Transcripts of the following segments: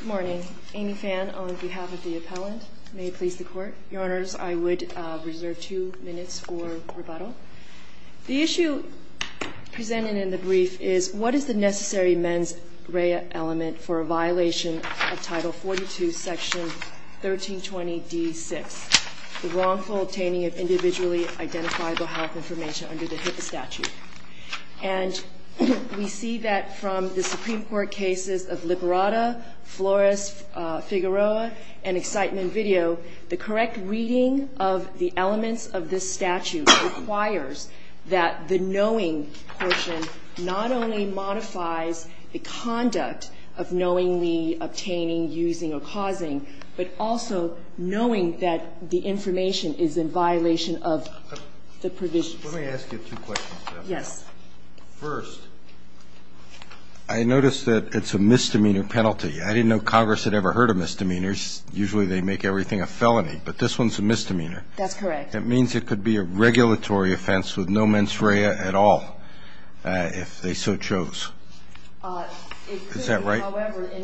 Good morning. Amy Phan on behalf of the appellant. May it please the Court. Your Honors, I would reserve two minutes for rebuttal. The issue presented in the brief is what is the necessary mens rea element for a violation of Title 42, Section 1320d-6, the wrongful obtaining of individually identifiable health information under the HIPAA statute. And we see that from the Supreme Court cases of Liberata, Flores-Figueroa, and Excitement Video, the correct reading of the elements of this statute requires that the knowing portion not only modifies the conduct of knowingly obtaining, using, or causing, but also knowing that the information is in violation of the provisions. Let me ask you two questions. Yes. First, I noticed that it's a misdemeanor penalty. I didn't know Congress had ever heard of misdemeanors. Usually they make everything a felony, but this one's a misdemeanor. That's correct. That means it could be a regulatory offense with no mens rea at all if they so chose. Is that right?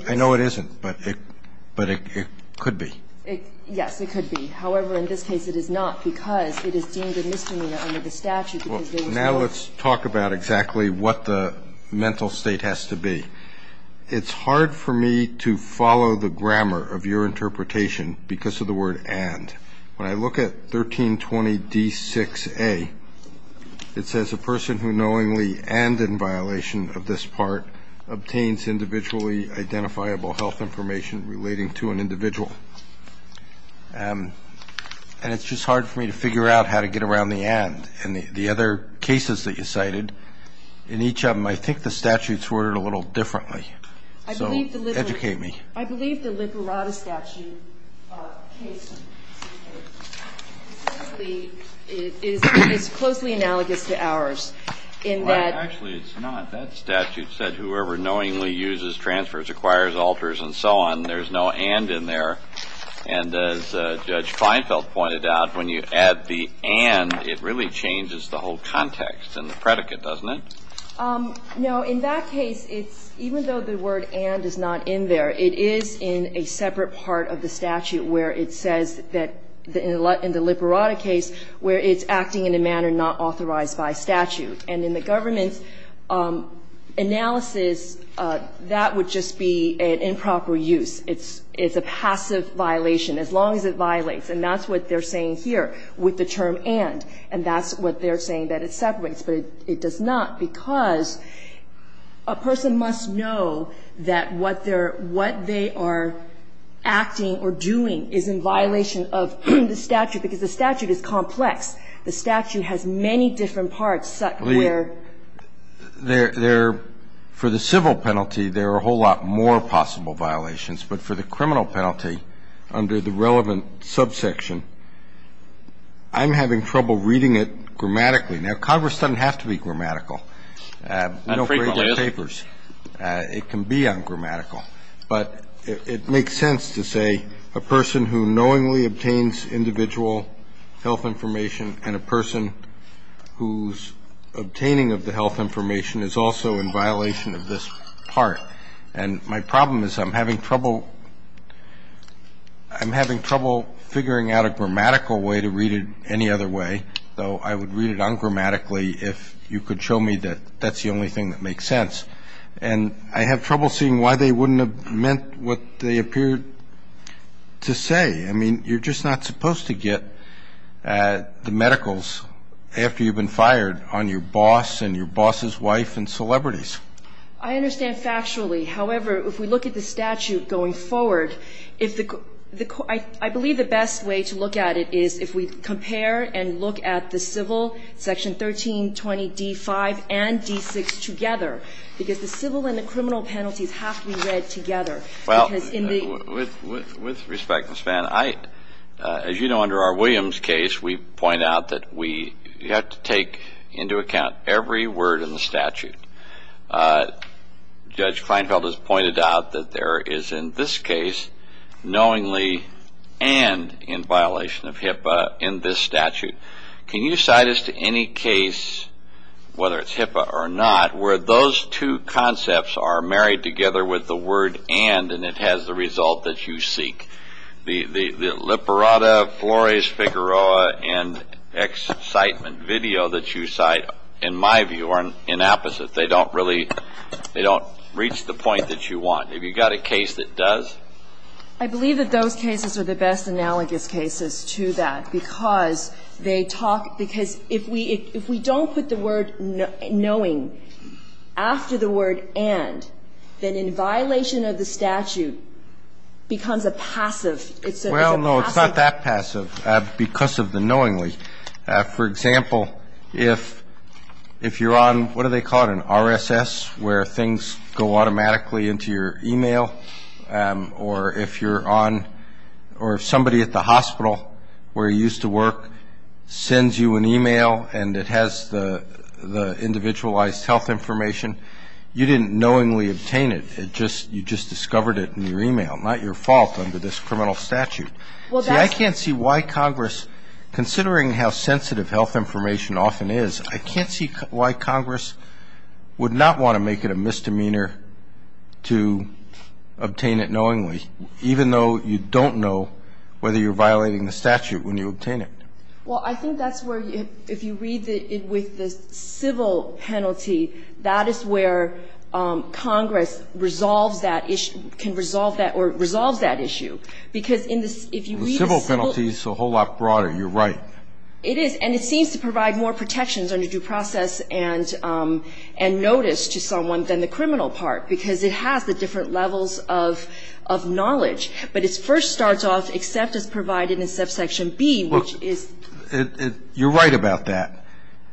I know it isn't, but it could be. Yes, it could be. However, in this case, it is not because it is deemed a misdemeanor under the statute because there was no ---- Now let's talk about exactly what the mental state has to be. It's hard for me to follow the grammar of your interpretation because of the word and. When I look at 1320d-6a, it says a person who knowingly and in violation of this part obtains individually identifiable health information relating to an individual. And it's just hard for me to figure out how to get around the and. In the other cases that you cited, in each of them, I think the statutes were ordered a little differently. So educate me. I believe the Liberata statute case is closely analogous to ours in that ---- Actually, it's not. That statute said whoever knowingly uses, transfers, acquires, alters, and so on, there's no and in there. And as Judge Kleinfeld pointed out, when you add the and, it really changes the whole context and the predicate, doesn't it? No. In that case, it's ---- even though the word and is not in there, it is in a separate part of the statute where it says that in the Liberata case where it's acting in a manner not authorized by statute. And in the government's analysis, that would just be an improper use. It's a passive violation, as long as it violates. And that's what they're saying here with the term and. And that's what they're saying, that it separates. But it does not, because a person must know that what they're ---- what they are acting or doing is in violation of the statute, because the statute is complex. The statute has many different parts where ---- And for the criminal penalty, there are a whole lot more possible violations. But for the criminal penalty, under the relevant subsection, I'm having trouble reading it grammatically. Now, Congress doesn't have to be grammatical. We don't create papers. It can be ungrammatical. But it makes sense to say a person who knowingly obtains individual health information and a person who's obtaining of the health information is also in violation of this part. And my problem is I'm having trouble ---- I'm having trouble figuring out a grammatical way to read it any other way. So I would read it ungrammatically if you could show me that that's the only thing that makes sense. And I have trouble seeing why they wouldn't have meant what they appeared to say. I mean, you're just not supposed to get the medicals after you've been fired on your boss and your boss's wife and celebrities. I understand factually. However, if we look at the statute going forward, if the ---- I believe the best way to look at it is if we compare and look at the civil section 1320d5 and d6 together, because the civil and the criminal penalties have to be read together. Well, with respect, Ms. Vann, I ---- as you know, under our Williams case, we point out that we have to take into account every word in the statute. Judge Kleinfeld has pointed out that there is in this case knowingly and in violation of HIPAA in this statute. Can you cite us to any case, whether it's HIPAA or not, where those two concepts are married together with the word and and it has the result that you seek? The Lipperada, Flores, Figueroa, and Excitement video that you cite, in my view, are in opposite. They don't really ---- they don't reach the point that you want. Have you got a case that does? I believe that those cases are the best analogous cases to that because they talk about the fact that in violation of the statute, knowingly and in violation And I think that's what's wrong because if we don't put the word knowing after the word and, then in violation of the statute, becomes a passive, it's a passive. Well, no. It's not that passive because of the knowingly. For example, if you're on, what do they call it, an RSS where things go automatically into your e-mail, or if you're on or if somebody at the hospital where you used to work sends you an e-mail and it has the individualized health information, you didn't knowingly obtain it. You just discovered it in your e-mail, not your fault under this criminal statute. See, I can't see why Congress, considering how sensitive health information often is, I can't see why Congress would not want to make it a misdemeanor to obtain it knowingly, even though you don't know whether you're violating the statute when you obtain it. Well, I think that's where, if you read it with the civil penalty, that is where Congress resolves that issue, can resolve that or resolves that issue. Because if you read the civil penalty, it's a whole lot broader. You're right. It is. And it seems to provide more protections under due process and notice to someone than the criminal part, because it has the different levels of knowledge. But it first starts off except as provided in subsection B, which is. You're right about that.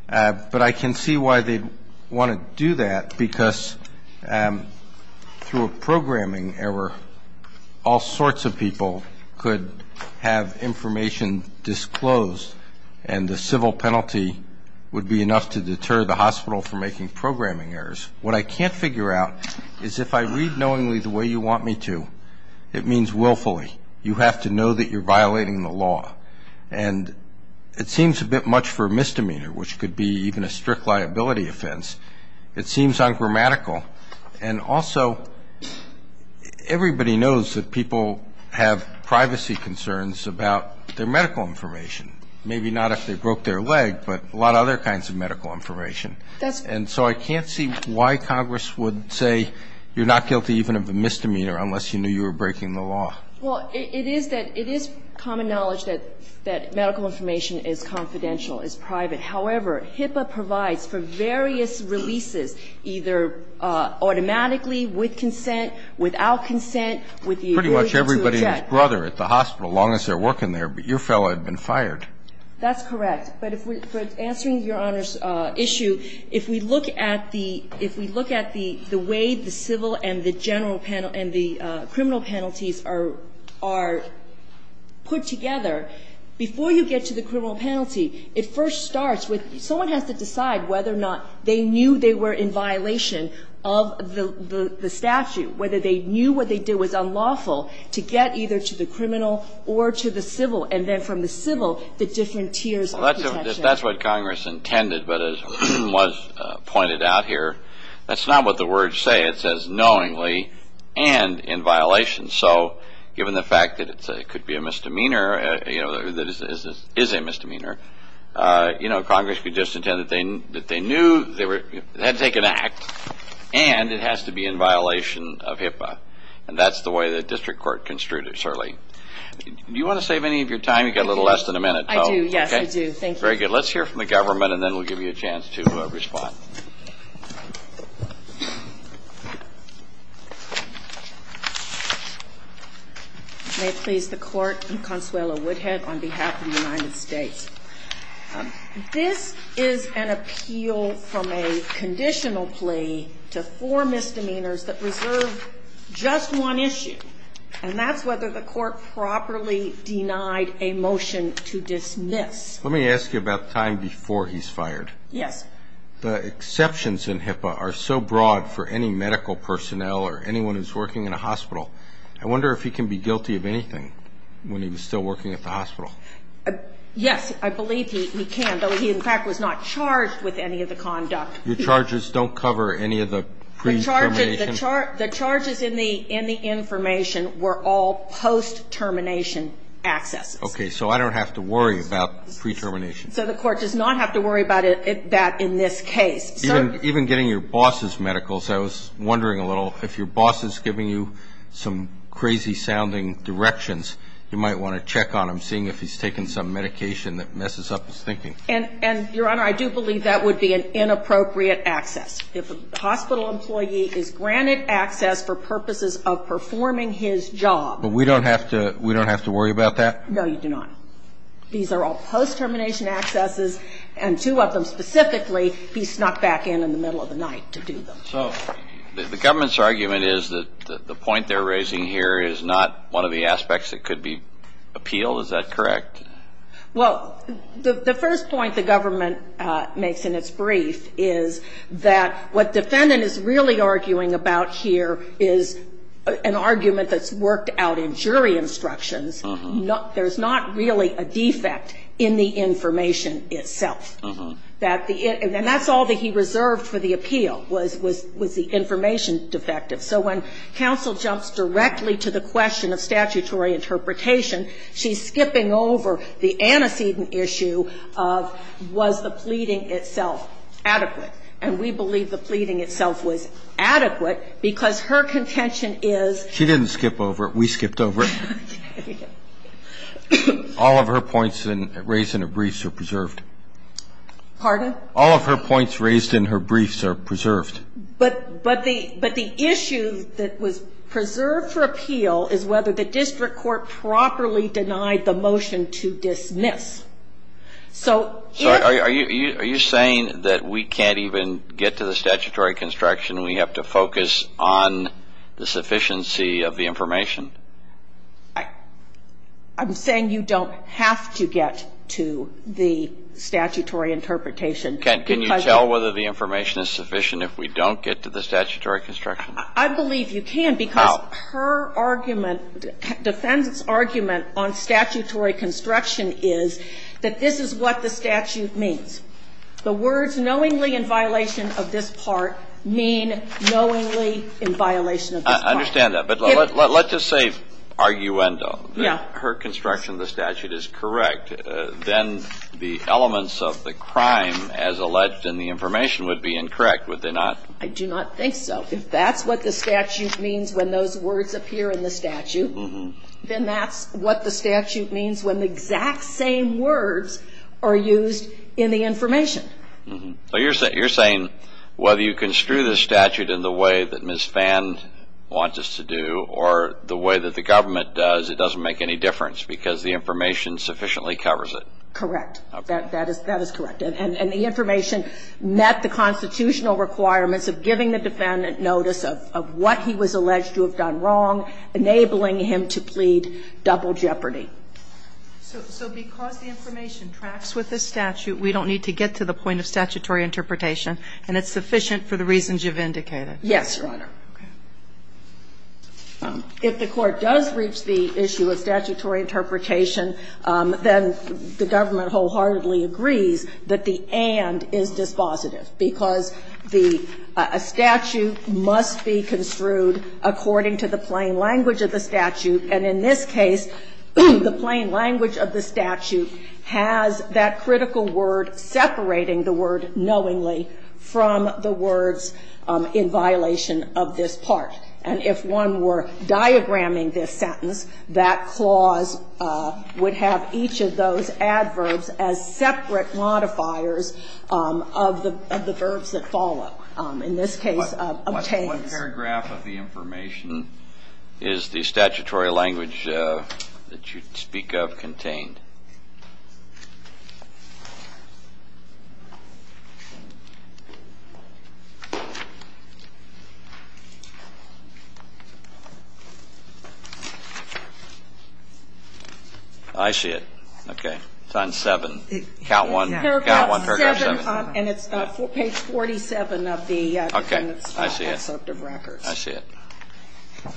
But I can see why they'd want to do that, because through a programming error, all sorts of people could have information disclosed, and the civil penalty would be enough to deter the hospital from making programming errors. What I can't figure out is if I read knowingly the way you want me to, it means willfully. You have to know that you're violating the law. And it seems a bit much for a misdemeanor, which could be even a strict liability offense. It seems ungrammatical. And also, everybody knows that people have privacy concerns about their medical information, maybe not if they broke their leg, but a lot of other kinds of medical information. And so I can't see why Congress would say you're not guilty even of a misdemeanor unless you knew you were breaking the law. Well, it is that it is common knowledge that medical information is confidential, is private. However, HIPAA provides for various releases, either automatically with consent, without consent, with the ability to object. Pretty much everybody and his brother at the hospital, long as they're working there, but your fellow had been fired. That's correct. But if we're answering Your Honor's issue, if we look at the way the civil and the criminal penalties are put together, before you get to the criminal penalty, it first starts with someone has to decide whether or not they knew they were in violation of the statute, whether they knew what they did was unlawful to get either to the criminal or to the civil. And then from the civil, the different tiers of protection. Well, that's what Congress intended. But as was pointed out here, that's not what the words say. It says knowingly and in violation. So given the fact that it could be a misdemeanor, you know, that is a misdemeanor, you know, Congress could just intend that they knew they had to take an act, and it has to be in violation of HIPAA. And that's the way the district court construed it, certainly. Do you want to save any of your time? You've got a little less than a minute. I do. Yes, I do. Thank you. Very good. Let's hear from the government, and then we'll give you a chance to respond. May it please the Court. I'm Consuelo Woodhead on behalf of the United States. This is an appeal from a conditional plea to four misdemeanors that reserve just one issue, and that's whether the court properly denied a motion to dismiss. Let me ask you about the time before he's fired. Yes. The exceptions in HIPAA are so broad for any medical personnel or anyone who's working in a hospital. I wonder if he can be guilty of anything when he was still working at the hospital. Yes, I believe he can, though he, in fact, was not charged with any of the conduct. Your charges don't cover any of the pre-determination? The charges in the information were all post-termination accesses. Okay, so I don't have to worry about pre-termination. So the court does not have to worry about that in this case. Even getting your boss's medicals, I was wondering a little, if your boss is giving you some crazy-sounding directions, you might want to check on him, seeing if he's taking some medication that messes up his thinking. And, Your Honor, I do believe that would be an inappropriate access. If a hospital employee is granted access for purposes of performing his job. But we don't have to worry about that? No, you do not. These are all post-termination accesses, and two of them specifically he snuck back in in the middle of the night to do them. So the government's argument is that the point they're raising here is not one of the aspects that could be appealed? Is that correct? Well, the first point the government makes in its brief is that what defendant is really arguing about here is an argument that's worked out in jury instructions. There's not really a defect in the information itself. And that's all that he reserved for the appeal was the information defective. So when counsel jumps directly to the question of statutory interpretation, she's skipping over the antecedent issue of was the pleading itself adequate. And we believe the pleading itself was adequate because her contention is. She didn't skip over it. We skipped over it. All of her points raised in her briefs are preserved. Pardon? All of her points raised in her briefs are preserved. But the issue that was preserved for appeal is whether the district court properly denied the motion to dismiss. So are you saying that we can't even get to the statutory construction and we have to focus on the sufficiency of the information? I'm saying you don't have to get to the statutory interpretation. Can you tell whether the information is sufficient if we don't get to the statutory construction? I believe you can because her argument, defendant's argument on statutory construction is that this is what the statute means. The words knowingly in violation of this part mean knowingly in violation of this part. I understand that. But let's just say arguendo. Yeah. Her construction of the statute is correct. Then the elements of the crime as alleged in the information would be incorrect, would they not? I do not think so. If that's what the statute means when those words appear in the statute, then that's what the statute means when the exact same words are used in the information You're saying whether you construe the statute in the way that Ms. Phan wants us to do or the way that the government does, it doesn't make any difference because the information sufficiently covers it. Correct. That is correct. And the information met the constitutional requirements of giving the defendant notice of what he was alleged to have done wrong, enabling him to plead double jeopardy. So because the information tracks with the statute, we don't need to get to the point of statutory interpretation, and it's sufficient for the reasons you've indicated. Yes, Your Honor. Okay. If the Court does reach the issue of statutory interpretation, then the government wholeheartedly agrees that the and is dispositive because the statute must be construed according to the plain language of the statute. And in this case, the plain language of the statute has that critical word separating the word knowingly from the words in violation of this part. And if one were diagramming this sentence, that clause would have each of those adverbs as separate modifiers of the verbs that follow. In this case, obtains. One paragraph of the information is the statutory language that you speak of contained. I see it. Okay. It's on seven. Count one. One paragraph seven. And it's on page 47 of the defendant's obstructive records. Okay. I see it. I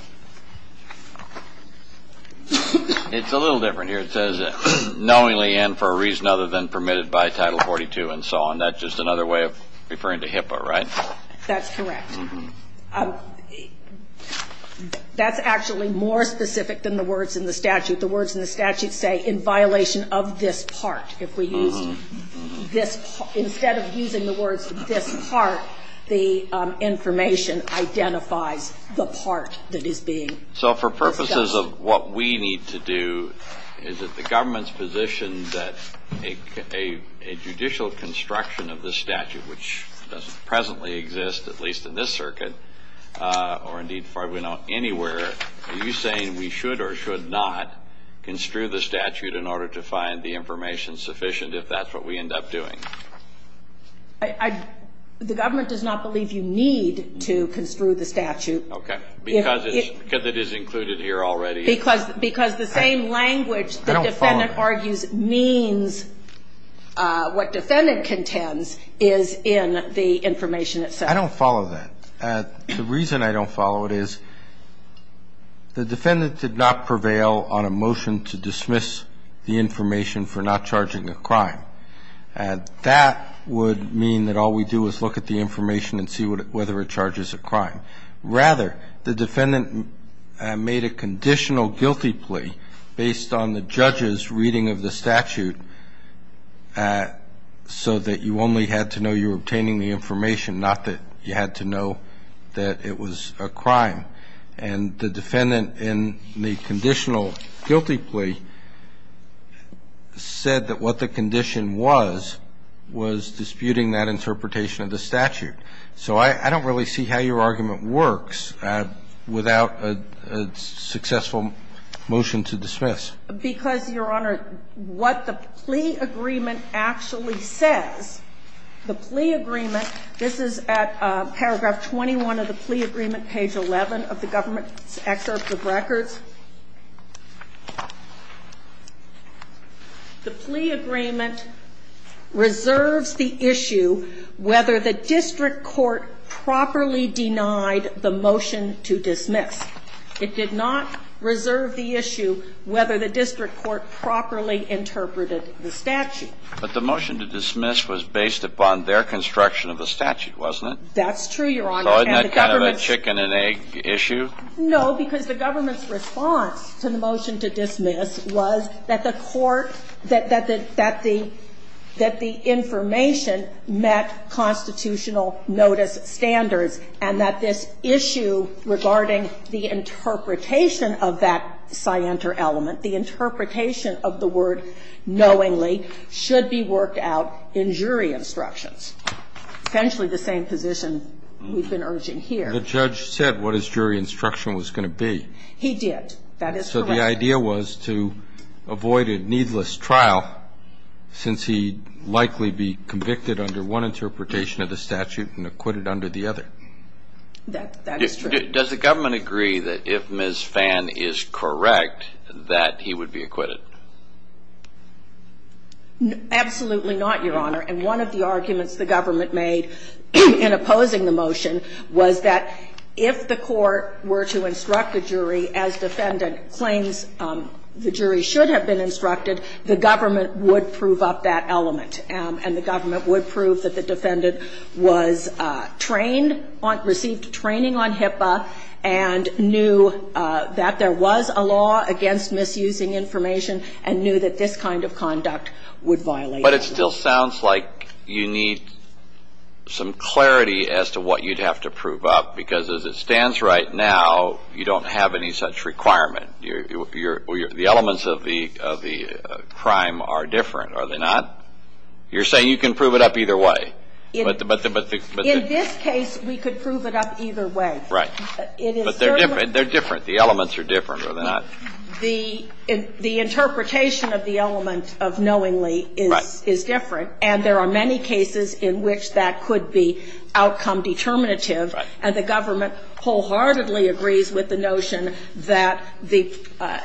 see it. It's a little different here. It says knowingly and for a reason other than permitted by Title 42 and so on. That's just another way of referring to HIPAA, right? That's correct. That's actually more specific than the words in the statute. The words in the statute say in violation of this part. If we used this part, instead of using the words this part, the information identifies the part that is being discussed. So for purposes of what we need to do, is it the government's position that a judicial construction of this statute, which doesn't presently exist, at least in this circuit, or indeed anywhere, are you saying we should or should not construe the statute in order to find the information sufficient if that's what we end up doing? The government does not believe you need to construe the statute. Okay. Because it is included here already. Because the same language the defendant argues means what defendant contends is in the information itself. I don't follow that. The reason I don't follow it is the defendant did not prevail on a motion to dismiss the information for not charging a crime. That would mean that all we do is look at the information and see whether it charges a crime. Rather, the defendant made a conditional guilty plea based on the judge's reading of the statute so that you only had to know you were obtaining the information, not that you had to know that it was a crime. And the defendant in the conditional guilty plea said that what the condition was, was disputing that interpretation of the statute. So I don't really see how your argument works without a successful motion to dismiss. Because, Your Honor, what the plea agreement actually says, the plea agreement, this is at paragraph 21 of the plea agreement, page 11 of the government's excerpt of records. The plea agreement reserves the issue whether the district court properly denied the motion to dismiss. It did not reserve the issue whether the district court properly interpreted the statute. But the motion to dismiss was based upon their construction of the statute, wasn't it? That's true, Your Honor. So isn't that kind of a chicken and egg issue? No, because the government's response to the motion to dismiss was that the court, that the information met constitutional notice standards and that this issue regarding the interpretation of that scienter element, the interpretation of the word knowingly, should be worked out in jury instructions, essentially the same position we've been urging here. The judge said what his jury instruction was going to be. He did. That is correct. So the idea was to avoid a needless trial, since he'd likely be convicted under one interpretation of the statute and acquitted under the other. That is true. Does the government agree that if Ms. Phan is correct, that he would be acquitted? Absolutely not, Your Honor. And one of the arguments the government made in opposing the motion was that if the court were to instruct a jury as defendant claims the jury should have been instructed, the government would prove up that element and the government would prove that the defendant was trained on, received training on HIPAA and knew that there was a law against misusing information and knew that this kind of conduct would violate it. But it still sounds like you need some clarity as to what you'd have to prove up, because as it stands right now, you don't have any such requirement. The elements of the crime are different, are they not? You're saying you can prove it up either way. In this case, we could prove it up either way. Right. But they're different. The elements are different, are they not? The interpretation of the element of knowingly is different, and there are many cases in which that could be outcome determinative, and the government wholeheartedly agrees with the notion that the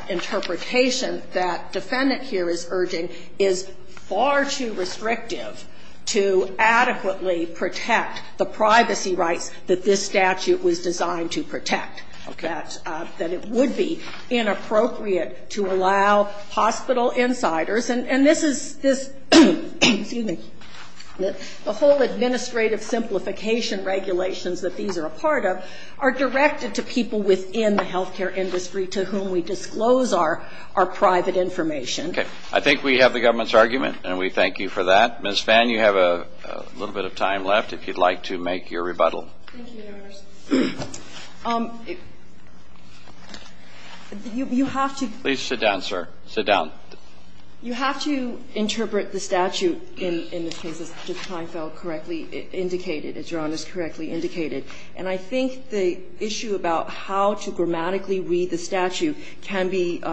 interpretation that defendant here is urging is far too restrictive to adequately protect the privacy rights that this statute was designed to protect. Okay. That it would be inappropriate to allow hospital insiders. And this is this – excuse me – the whole administrative simplification and regulations that these are a part of are directed to people within the healthcare industry to whom we disclose our private information. Okay. I think we have the government's argument, and we thank you for that. Ms. Phan, you have a little bit of time left if you'd like to make your rebuttal. Thank you, Your Honors. You have to – Please sit down, sir. Sit down. You have to interpret the statute in this case, as Justice Kleinfeld correctly indicated, as Your Honors correctly indicated. And I think the issue about how to grammatically read the statute can be –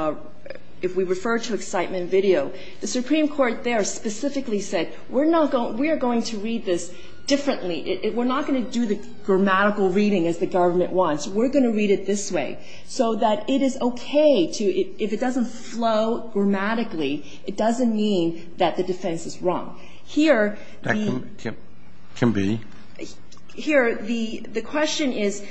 if we refer to excitement video, the Supreme Court there specifically said, we're not going – we are going to read this differently. We're not going to do the grammatical reading as the government wants. We're going to read it this way. So that it is okay to – if it doesn't flow grammatically, it doesn't mean that the defense is wrong. Here, the – That can be. Here, the question is,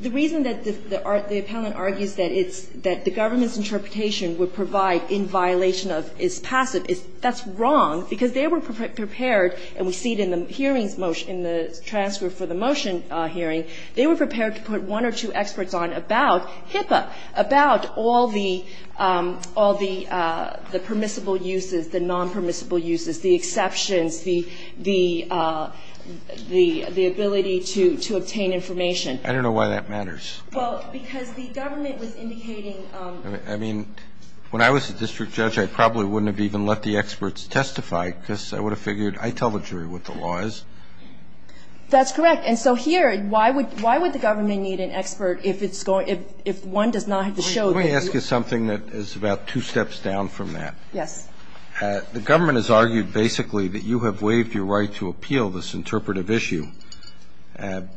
the reason that the appellant argues that it's – that the government's interpretation would provide in violation of its passive is that's wrong, because they were prepared – and we see it in the hearings motion, in the transcript for the motion hearing, they were prepared to put one or two experts on about HIPAA, about all the – all the permissible uses, the non-permissible uses, the exceptions, the – the ability to – to obtain information. I don't know why that matters. Well, because the government was indicating – I mean, when I was the district judge, I probably wouldn't have even let the experts testify, because I would have figured I tell the jury what the law is. That's correct. And so here, why would – why would the government need an expert if it's going – if one does not have to show that you – Let me ask you something that is about two steps down from that. Yes. The government has argued basically that you have waived your right to appeal this interpretive issue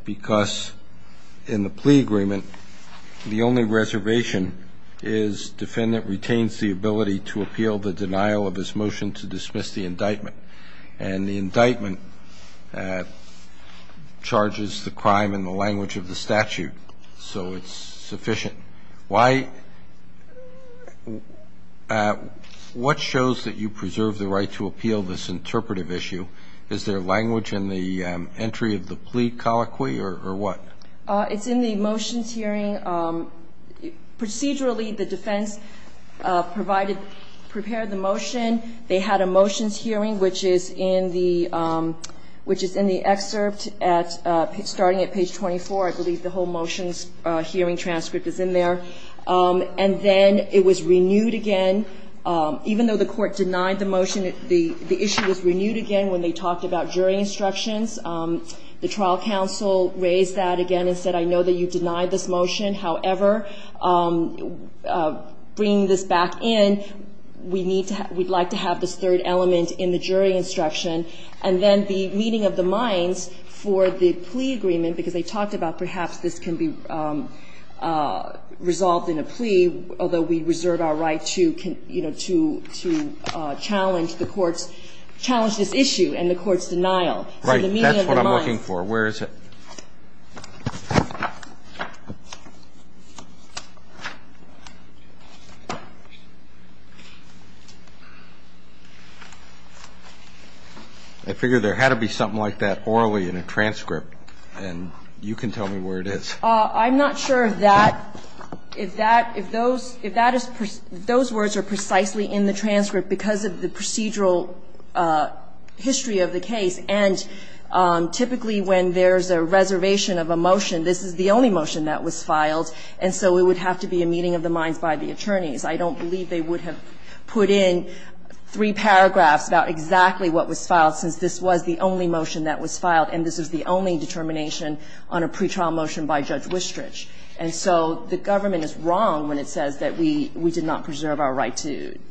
because in the plea agreement, the only reservation is the indictment. And the indictment charges the crime in the language of the statute. So it's sufficient. Why – what shows that you preserve the right to appeal this interpretive issue? Is there language in the entry of the plea colloquy or what? It's in the motions hearing. Procedurally, the defense provided – prepared the motion. They had a motions hearing, which is in the – which is in the excerpt at – starting at page 24. I believe the whole motions hearing transcript is in there. And then it was renewed again. Even though the court denied the motion, the issue was renewed again when they talked about jury instructions. The trial counsel raised that again and said, I know that you denied this motion. However, bringing this back in, we need to – we'd like to have this third element in the jury instruction. And then the meeting of the minds for the plea agreement, because they talked about perhaps this can be resolved in a plea, although we reserve our right to, you know, to challenge the court's – challenge this issue and the court's denial. Right. That's what I'm looking for. Where is it? I figure there had to be something like that orally in a transcript. And you can tell me where it is. I'm not sure if that – if that – if those – if that is – if those words are precisely in the transcript because of the procedural history of the case. And typically when there's a reservation of a motion, this is the only motion that was filed. And so it would have to be a meeting of the minds by the attorneys. I don't believe they would have put in three paragraphs about exactly what was filed since this was the only motion that was filed and this was the only determination on a pretrial motion by Judge Wistridge. And so the government is wrong when it says that we – we did not preserve our right to –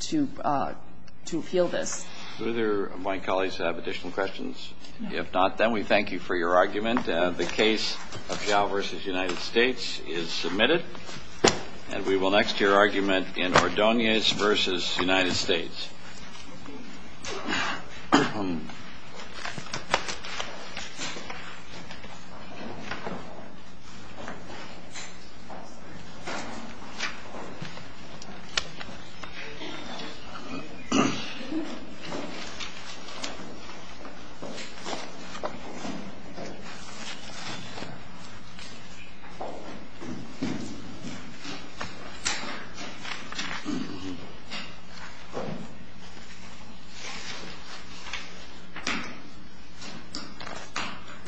to appeal this. Do either of my colleagues have additional questions? If not, then we thank you for your argument. The case of Xiao versus United States is submitted. And we will next hear argument in Ordonez versus United States. Thank you.